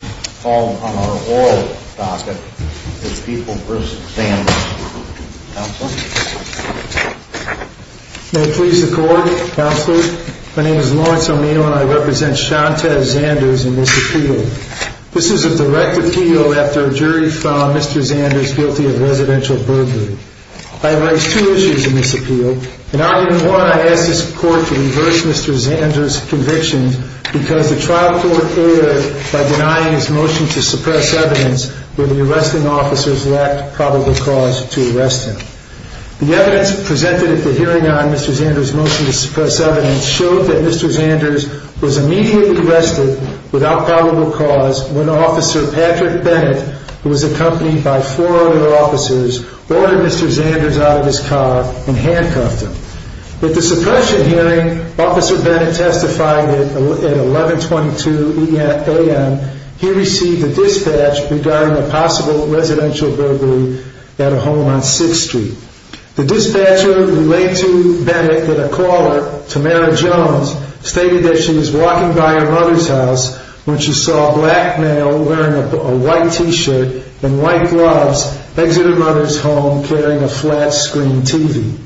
May it please the court, counsel. My name is Lawrence Omino and I represent Shante Zanders in this appeal. This is a direct appeal after a jury found Mr. Zanders guilty of residential burglary. I have raised two issues in this appeal. In argument one, I asked this court to reverse Mr. Zanders' conviction because the trial court erred by denying his motion to suppress evidence when the arresting officers lacked probable cause to arrest him. The evidence presented at the hearing on Mr. Zanders' motion to suppress evidence showed that Mr. Zanders was immediately arrested without probable cause when Officer Patrick Bennett, who was accompanied by four other officers, ordered Mr. Zanders out of his car and handcuffed him. At the suppression hearing, Officer Bennett testified that at 11.22 a.m. he received a dispatch regarding a possible residential burglary at a home on 6th Street. The dispatcher relayed to Bennett that a caller, Tamara Jones, stated that she was walking by her mother's house when she saw a black male wearing a white t-shirt and white gloves exit her mother's home carrying a flat screen TV.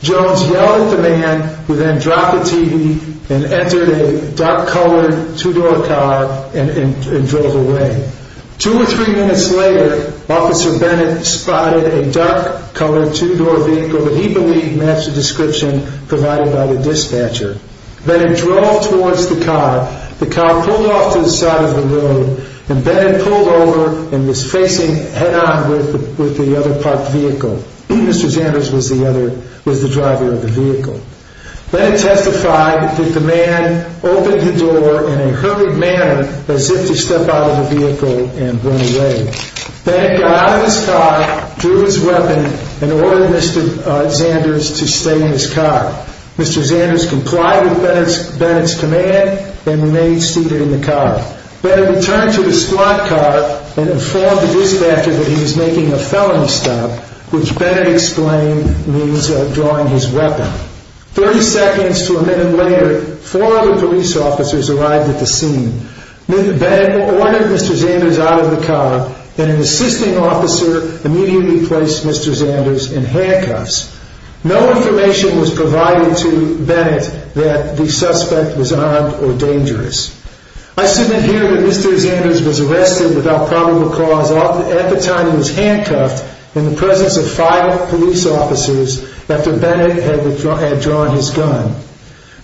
Jones yelled at the man who then dropped the TV and entered a dark-colored two-door car and drove away. Two or three minutes later, Officer Bennett spotted a dark-colored two-door vehicle that he believed matched the description provided by the dispatcher. Bennett drove towards the car. The car pulled off to the side of the road and Bennett pulled over and was facing head-on with the other parked vehicle. Mr. Zanders was the driver of the vehicle. Bennett testified that the man opened the door in a hurried manner as if to step out of the vehicle and run away. Bennett got out of his car, drew his weapon, and ordered Mr. Zanders to stay in his car. Mr. Zanders complied with Bennett's command and remained seated in the car. Bennett returned to his squad car and informed the dispatcher that he was making a felony stop, which Bennett explained means drawing his weapon. Thirty seconds to a minute later, four other police officers arrived at the scene. Bennett ordered Mr. Zanders out of the car and an assisting officer immediately placed Mr. Zanders in handcuffs. No information was provided to Bennett that the suspect was armed or dangerous. I submit here that Mr. Zanders was arrested without probable cause at the time he was handcuffed in the presence of five police officers after Bennett had withdrawn his gun.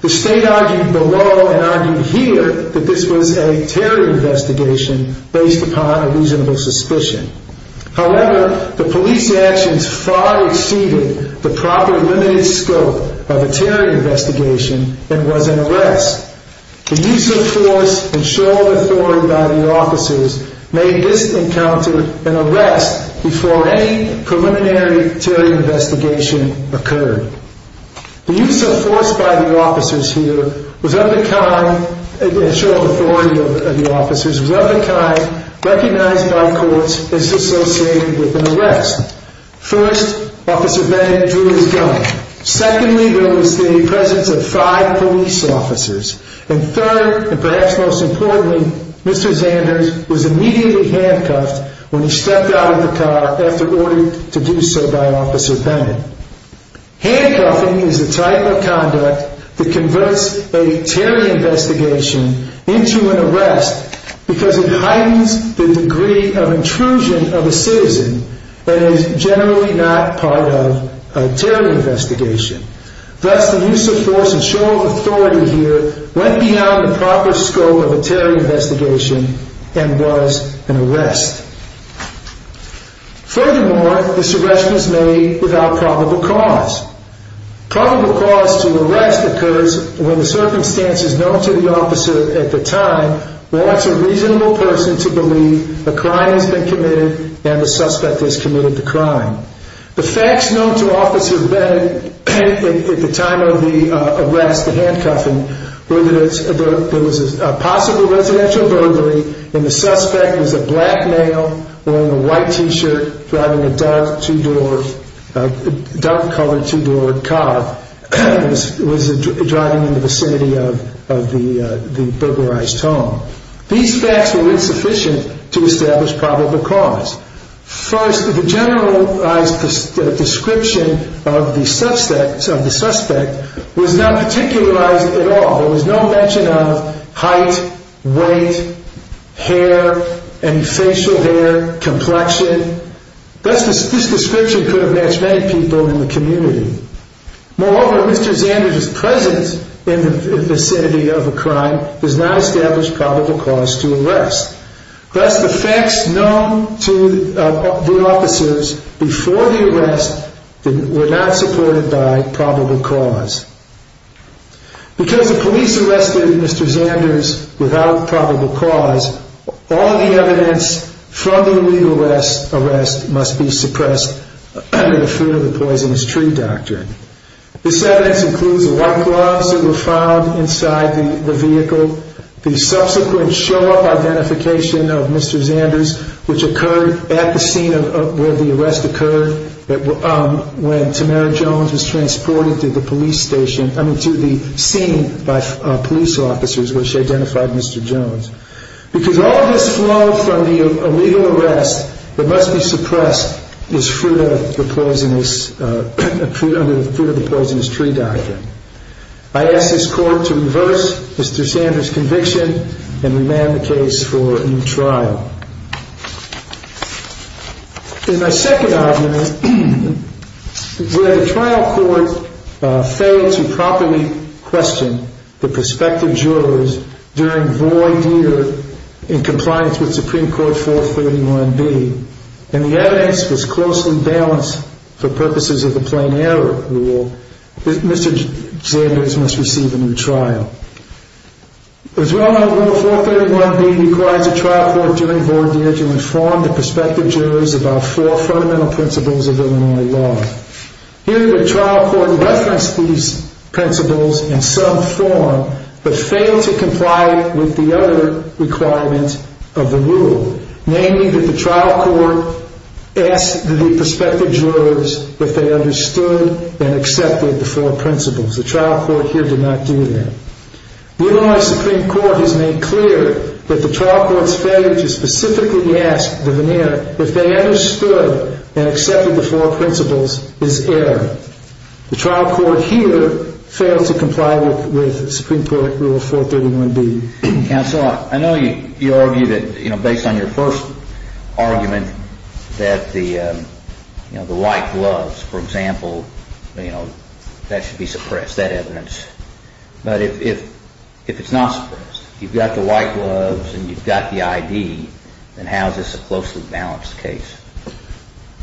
The State argued below and argued here that this was a terror investigation based upon a reasonable suspicion. However, the police actions far exceeded the proper limited scope of a terror investigation and was an arrest. The use of force and show of authority by the officers made this encounter an arrest before any preliminary terror investigation occurred. The use of force by the officers here was of the kind recognized by courts as associated with an arrest. First, Officer Bennett withdrew his gun. Secondly, there was the presence of five police officers. And third, and perhaps most importantly, Mr. Zanders was immediately handcuffed when he stepped out of the car after being ordered to do so by Officer Bennett. Handcuffing is a type of conduct that converts a terror investigation into an arrest because it heightens the degree of intrusion of a citizen that is generally not part of a terror investigation. Thus, the use of force and show of authority here went beyond the proper scope of a terror investigation and was an arrest. Furthermore, this arrest was made without probable cause. Probable cause to arrest occurs when the circumstances known to the officer at the time wants a reasonable person to believe a crime has been committed and the suspect has committed the crime. The facts known to Officer Bennett at the time of the arrest, the handcuffing, were that there was a possible residential burglary and the suspect was a black male wearing a white t-shirt driving a dark-colored two-door car. He was driving in the vicinity of the burglarized home. These facts were insufficient to establish probable cause. First, the generalized description of the suspect was not particularized at all. There was no mention of height, weight, hair, any facial hair, complexion. This description could have matched many people in the community. Moreover, Mr. Zanders' presence in the vicinity of a crime does not establish probable cause to arrest. Thus, the facts known to the officers before the arrest were not supported by probable cause. Because the police arrested Mr. Zanders without probable cause, all the evidence from the illegal arrest must be suppressed under the fear of the poisonous tree doctrine. This evidence includes the white gloves that were found inside the vehicle, the subsequent show-off identification of Mr. Zanders, which occurred at the scene where the arrest occurred, when Tamara Jones was transported to the scene by police officers where she identified Mr. Jones. Because all of this flow from the illegal arrest that must be suppressed is fruit of the poisonous tree doctrine. I ask this court to reverse Mr. Zanders' conviction and remand the case for a new trial. In my second argument, where the trial court failed to properly question the prospective jurors during void year in compliance with Supreme Court 431B, and the evidence was closely balanced for purposes of the plain error rule, Mr. Zanders must receive a new trial. As we all know, Rule 431B requires the trial court during void year to inform the prospective jurors about four fundamental principles of Illinois law. Here, the trial court referenced these principles in some form, but failed to comply with the other requirements of the rule, namely that the trial court asked the prospective jurors if they understood and accepted the four principles. The trial court here did not do that. Illinois Supreme Court has made clear that the trial court's failure to specifically ask the veneer if they understood and accepted the four principles is error. The trial court here failed to comply with Supreme Court Rule 431B. Counsel, I know you argued that based on your first argument that the white gloves, for example, that should be suppressed, that evidence. But if it's not suppressed, you've got the white gloves and you've got the ID, then how is this a closely balanced case?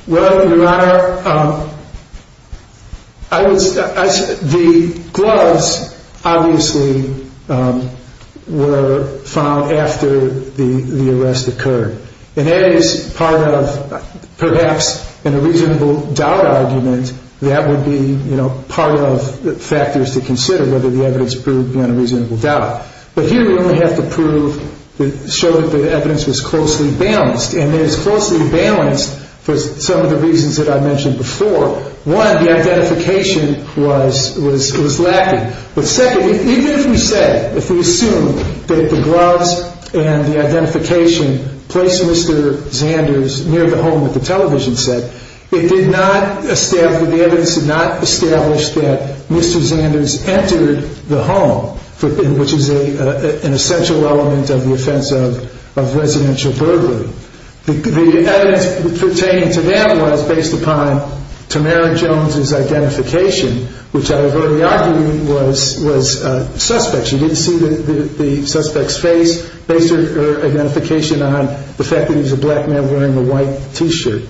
Well, Your Honor, the gloves obviously were found after the arrest occurred. And that is part of perhaps in a reasonable doubt argument, that would be part of factors to consider whether the evidence proved beyond a reasonable doubt. But here we only have to prove, show that the evidence was closely balanced. And it was closely balanced for some of the reasons that I mentioned before. One, the identification was lacking. But secondly, even if we said, if we assumed that the gloves and the identification placed Mr. Zanders near the home that the television set, it did not establish, the evidence did not establish that Mr. Zanders entered the home, which is an essential element of the offense of residential burglary. The evidence pertaining to that was based upon Tamara Jones' identification, which I have already argued was suspect. She didn't see the suspect's face, based her identification on the fact that he was a black man wearing a white T-shirt.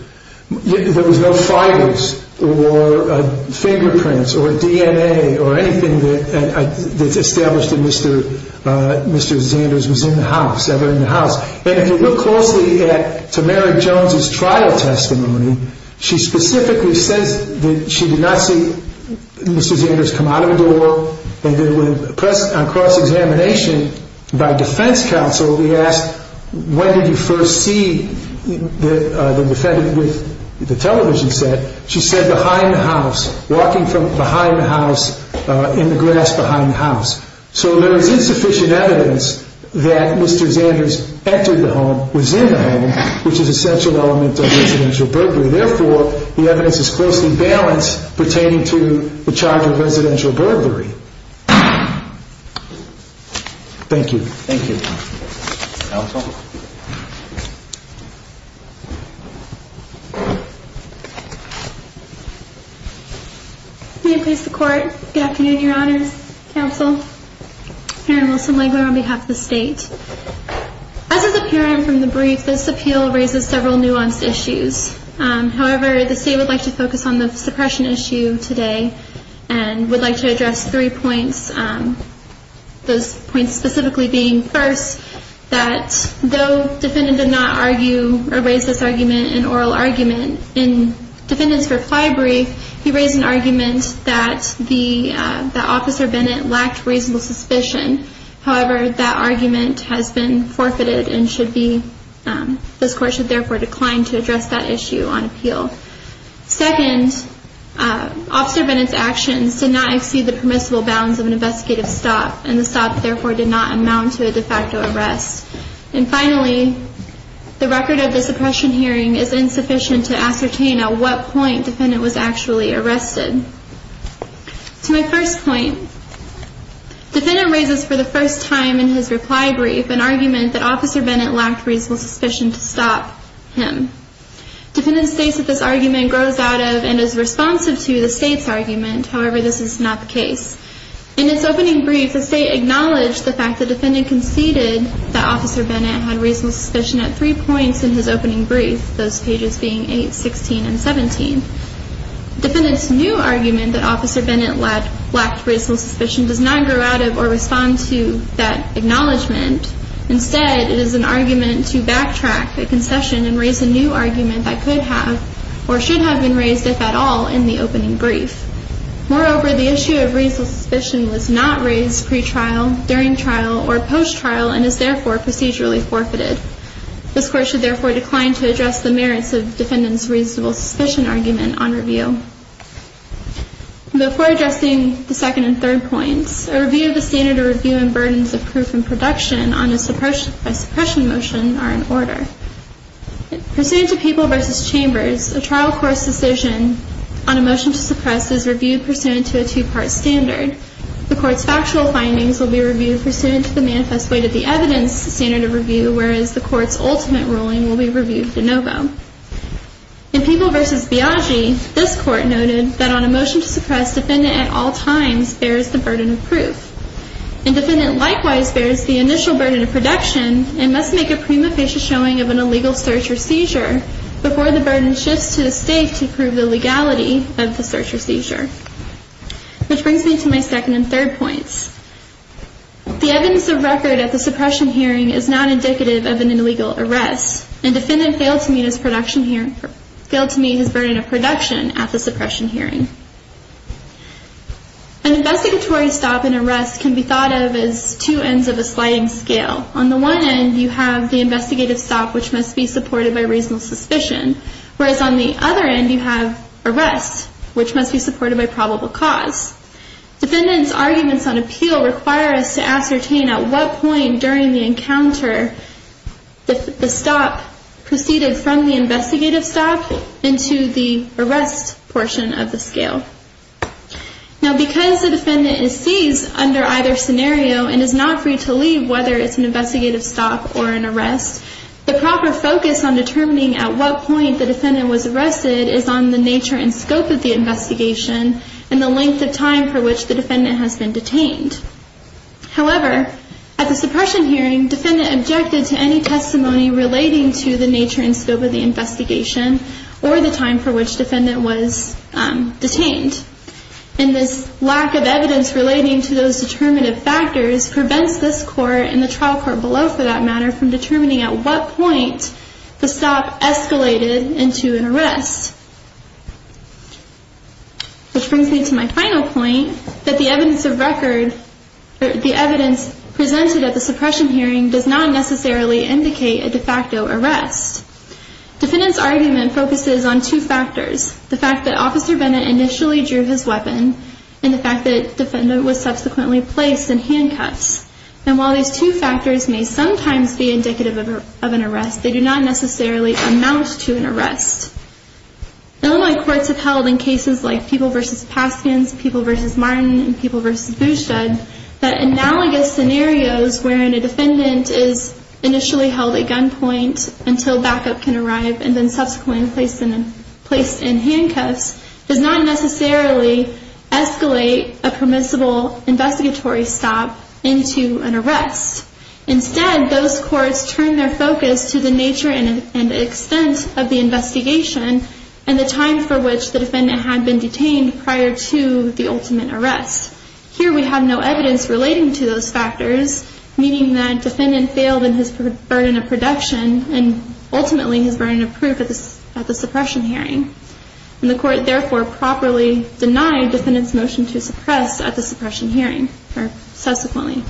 There was no fibers or fingerprints or DNA or anything that established that Mr. Zanders was in the house, ever in the house. And if you look closely at Tamara Jones' trial testimony, she specifically says that she did not see Mr. Zanders come out of the door. On cross-examination by defense counsel, we asked, when did you first see the defendant with the television set? She said, behind the house, walking from behind the house in the grass behind the house. So there is insufficient evidence that Mr. Zanders entered the home, was in the home, which is an essential element of residential burglary. Thank you. Thank you. Counsel? May it please the court, good afternoon, your honors, counsel. Karen Wilson-Wengler on behalf of the state. As is apparent from the brief, this appeal raises several nuanced issues. However, the state would like to focus on the suppression issue today and would like to address three points. Those points specifically being, first, that though defendant did not argue or raise this argument in oral argument, in defendant's reply brief, he raised an argument that the officer Bennett lacked reasonable suspicion. However, that argument has been forfeited and should be, this court should therefore decline to address that issue on appeal. Second, officer Bennett's actions did not exceed the permissible bounds of an investigative stop and the stop therefore did not amount to a de facto arrest. And finally, the record of the suppression hearing is insufficient to ascertain at what point defendant was actually arrested. To my first point, defendant raises for the first time in his reply brief an argument that officer Bennett lacked reasonable suspicion to stop him. Defendant states that this argument grows out of and is responsive to the state's argument. However, this is not the case. In its opening brief, the state acknowledged the fact that defendant conceded that officer Bennett had reasonable suspicion at three points in his opening brief, those pages being 8, 16, and 17. Defendant's new argument that officer Bennett lacked reasonable suspicion does not grow out of or respond to that acknowledgement. Instead, it is an argument to backtrack the concession and raise a new argument that could have or should have been raised, if at all, in the opening brief. Moreover, the issue of reasonable suspicion was not raised pre-trial, during trial, or post-trial and is therefore procedurally forfeited. This Court should therefore decline to address the merits of defendant's reasonable suspicion argument on review. Before addressing the second and third points, a review of the standard of review and burdens of proof and production on a suppression motion are in order. Pursuant to People v. Chambers, a trial court's decision on a motion to suppress is reviewed pursuant to a two-part standard. The court's factual findings will be reviewed pursuant to the manifest weight of the evidence standard of review, whereas the court's ultimate ruling will be reviewed de novo. In People v. Biaggi, this Court noted that on a motion to suppress, defendant at all times bears the burden of proof. And defendant likewise bears the initial burden of production and must make a prima facie showing of an illegal search or seizure before the burden shifts to the State to prove the legality of the search or seizure. Which brings me to my second and third points. The evidence of record at the suppression hearing is not indicative of an illegal arrest, and defendant failed to meet his burden of production at the suppression hearing. An investigatory stop and arrest can be thought of as two ends of a sliding scale. On the one end, you have the investigative stop, which must be supported by reasonable suspicion, whereas on the other end, you have arrest, which must be supported by probable cause. Defendant's arguments on appeal require us to ascertain at what point during the encounter the stop proceeded from the investigative stop into the arrest portion of the scale. Now because the defendant is seized under either scenario and is not free to leave, whether it's an investigative stop or an arrest, the proper focus on determining at what point the defendant was arrested is on the nature and scope of the investigation and the length of time for which the defendant has been detained. However, at the suppression hearing, defendant objected to any testimony relating to the nature and scope of the investigation or the time for which defendant was detained. And this lack of evidence relating to those determinative factors prevents this court and the trial court below for that matter from determining at what point the stop escalated into an arrest. Which brings me to my final point, that the evidence of record, the evidence presented at the suppression hearing does not necessarily indicate a de facto arrest. Defendant's argument focuses on two factors, the fact that Officer Bennett initially drew his weapon and the fact that the defendant was subsequently placed in handcuffs. And while these two factors may sometimes be indicative of an arrest, they do not necessarily amount to an arrest. Illinois courts have held in cases like People v. Paskins, People v. Martin, and People v. Bouchard, that analogous scenarios wherein a defendant is initially held at gunpoint until backup can arrive and then subsequently placed in handcuffs, does not necessarily escalate a permissible investigatory stop into an arrest. Instead, those courts turn their focus to the nature and extent of the investigation and the time for which the defendant had been detained prior to the ultimate arrest. Here we have no evidence relating to those factors, meaning that defendant failed in his burden of production and ultimately his burden of proof at the suppression hearing. And the court therefore properly denied defendant's motion to suppress at the suppression hearing, or subsequently.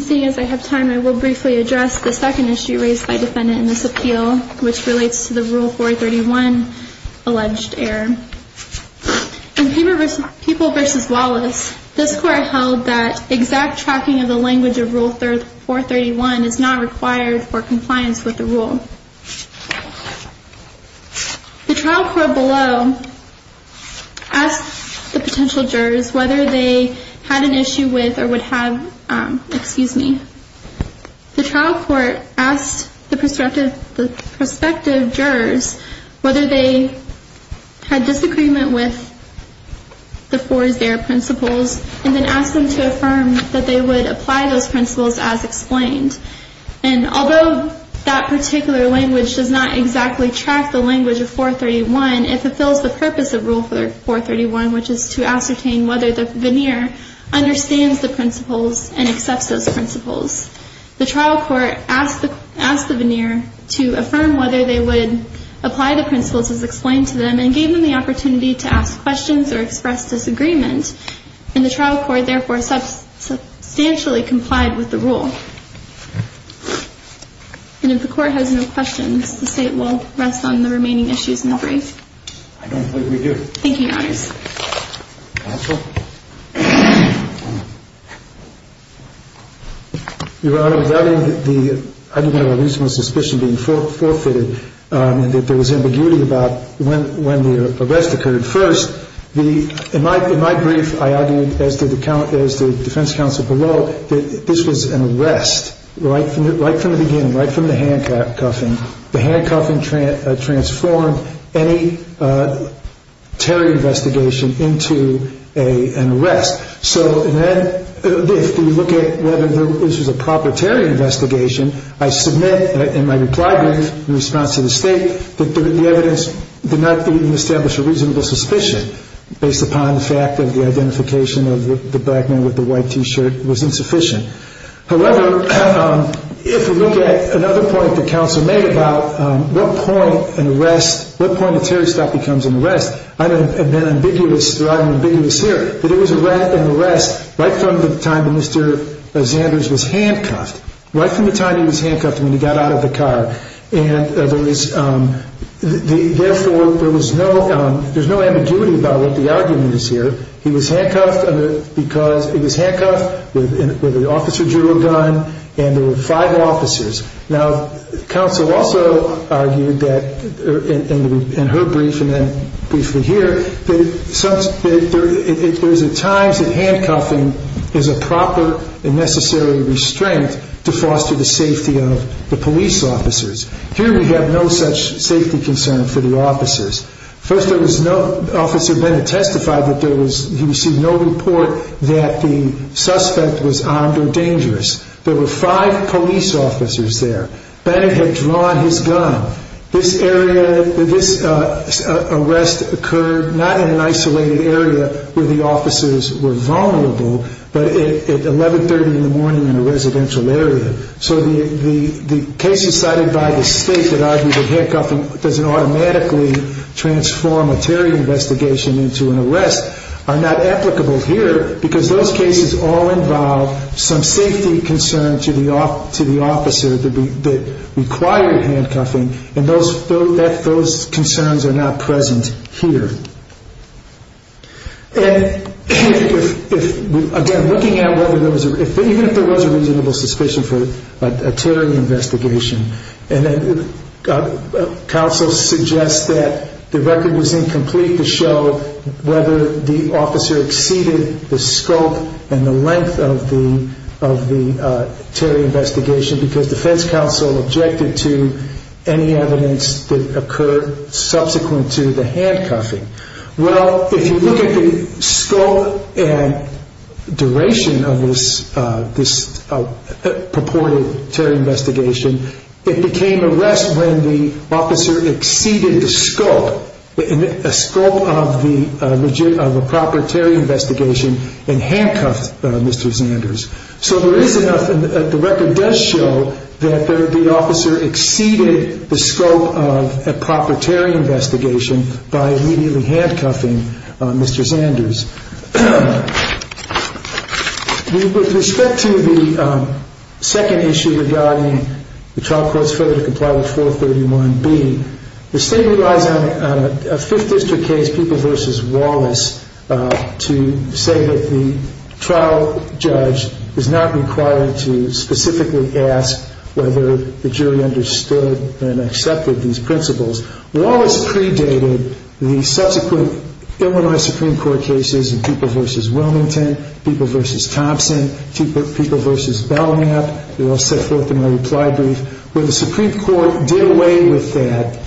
Seeing as I have time, I will briefly address the second issue raised by defendant in this appeal, which relates to the Rule 431 alleged error. In People v. Wallace, this court held that exact tracking of the language of Rule 431 is not required for compliance with the rule. The trial court below asked the potential jurors whether they had an issue with or would have, excuse me, the trial court asked the prospective jurors whether they had disagreement with the four zero principles and then asked them to affirm that they would apply those principles as explained. And although that particular language does not exactly track the language of 431, it fulfills the purpose of Rule 431, which is to ascertain whether the veneer understands the principles and accepts those principles. The trial court asked the veneer to affirm whether they would apply the principles as explained to them and gave them the opportunity to ask questions or express disagreement. And the trial court therefore substantially complied with the rule. And if the court has no questions, the State will rest on the remaining issues in the brief. I don't believe we do. Thank you, Your Honors. Counsel? Your Honor, without any of the, I don't have a reasonable suspicion being forfeited, and that there was ambiguity about when the arrest occurred first, in my brief I argued, as did the defense counsel below, that this was an arrest right from the beginning, right from the handcuffing. The handcuffing transformed any terror investigation into an arrest. So then if we look at whether this was a proper terror investigation, I submit in my reply brief in response to the State that the evidence did not even establish a reasonable suspicion. Based upon the fact that the identification of the black man with the white T-shirt was insufficient. However, if we look at another point the counsel made about what point an arrest, what point a terror stop becomes an arrest, I have been ambiguous, or I'm ambiguous here, that it was an arrest right from the time that Mr. Zanders was handcuffed, right from the time he was handcuffed when he got out of the car. And there was, therefore, there was no ambiguity about what the argument is here. He was handcuffed because he was handcuffed with an officer drill gun and there were five officers. Now, counsel also argued that, in her brief and then briefly here, that there is at times that handcuffing is a proper and necessary restraint to foster the safety of the police officers. Here we have no such safety concern for the officers. First, there was no, Officer Bennett testified that there was, he received no report that the suspect was armed or dangerous. There were five police officers there. Bennett had drawn his gun. This area, this arrest occurred not in an isolated area where the officers were vulnerable, but at 1130 in the morning in a residential area. So the cases cited by the state that argue that handcuffing doesn't automatically transform a terror investigation into an arrest are not applicable here because those cases all involve some safety concern to the officer that required handcuffing, and those concerns are not present here. Again, looking at whether there was, even if there was a reasonable suspicion for a terror investigation, counsel suggests that the record was incomplete to show whether the officer exceeded the scope and the length of the terror investigation because defense counsel objected to any evidence that occurred subsequent to the handcuffing. Well, if you look at the scope and duration of this purported terror investigation, it became an arrest when the officer exceeded the scope of a proper terror investigation and handcuffed Mr. Zanders. So there is enough, and the record does show that the officer exceeded the scope of a proper terror investigation by immediately handcuffing Mr. Zanders. With respect to the second issue regarding the trial court's failure to comply with 431B, the state relies on a Fifth District case, People v. Wallace, to say that the trial judge is not required to specifically ask whether the jury understood and accepted these principles. Wallace predated the subsequent Illinois Supreme Court cases in People v. Wilmington, People v. Thompson, People v. Belknap. They're all set forth in my reply brief. When the Supreme Court did away with that,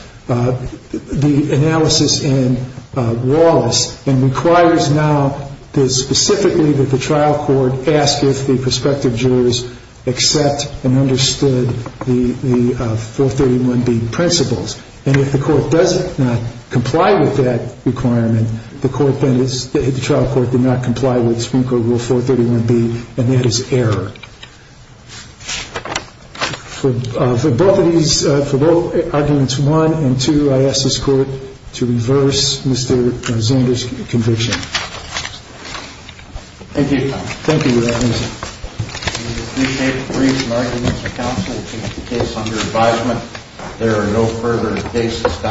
the analysis in Wallace, and requires now specifically that the trial court ask if the prospective jurors accept and understood the 431B principles. And if the court does not comply with that requirement, then the trial court did not comply with Supreme Court Rule 431B, and that is error. For both arguments one and two, I ask this court to reverse Mr. Zanders' conviction. Thank you. Thank you, Your Honor. We appreciate the briefs and arguments of counsel. This is a case under advisement. There are no further cases.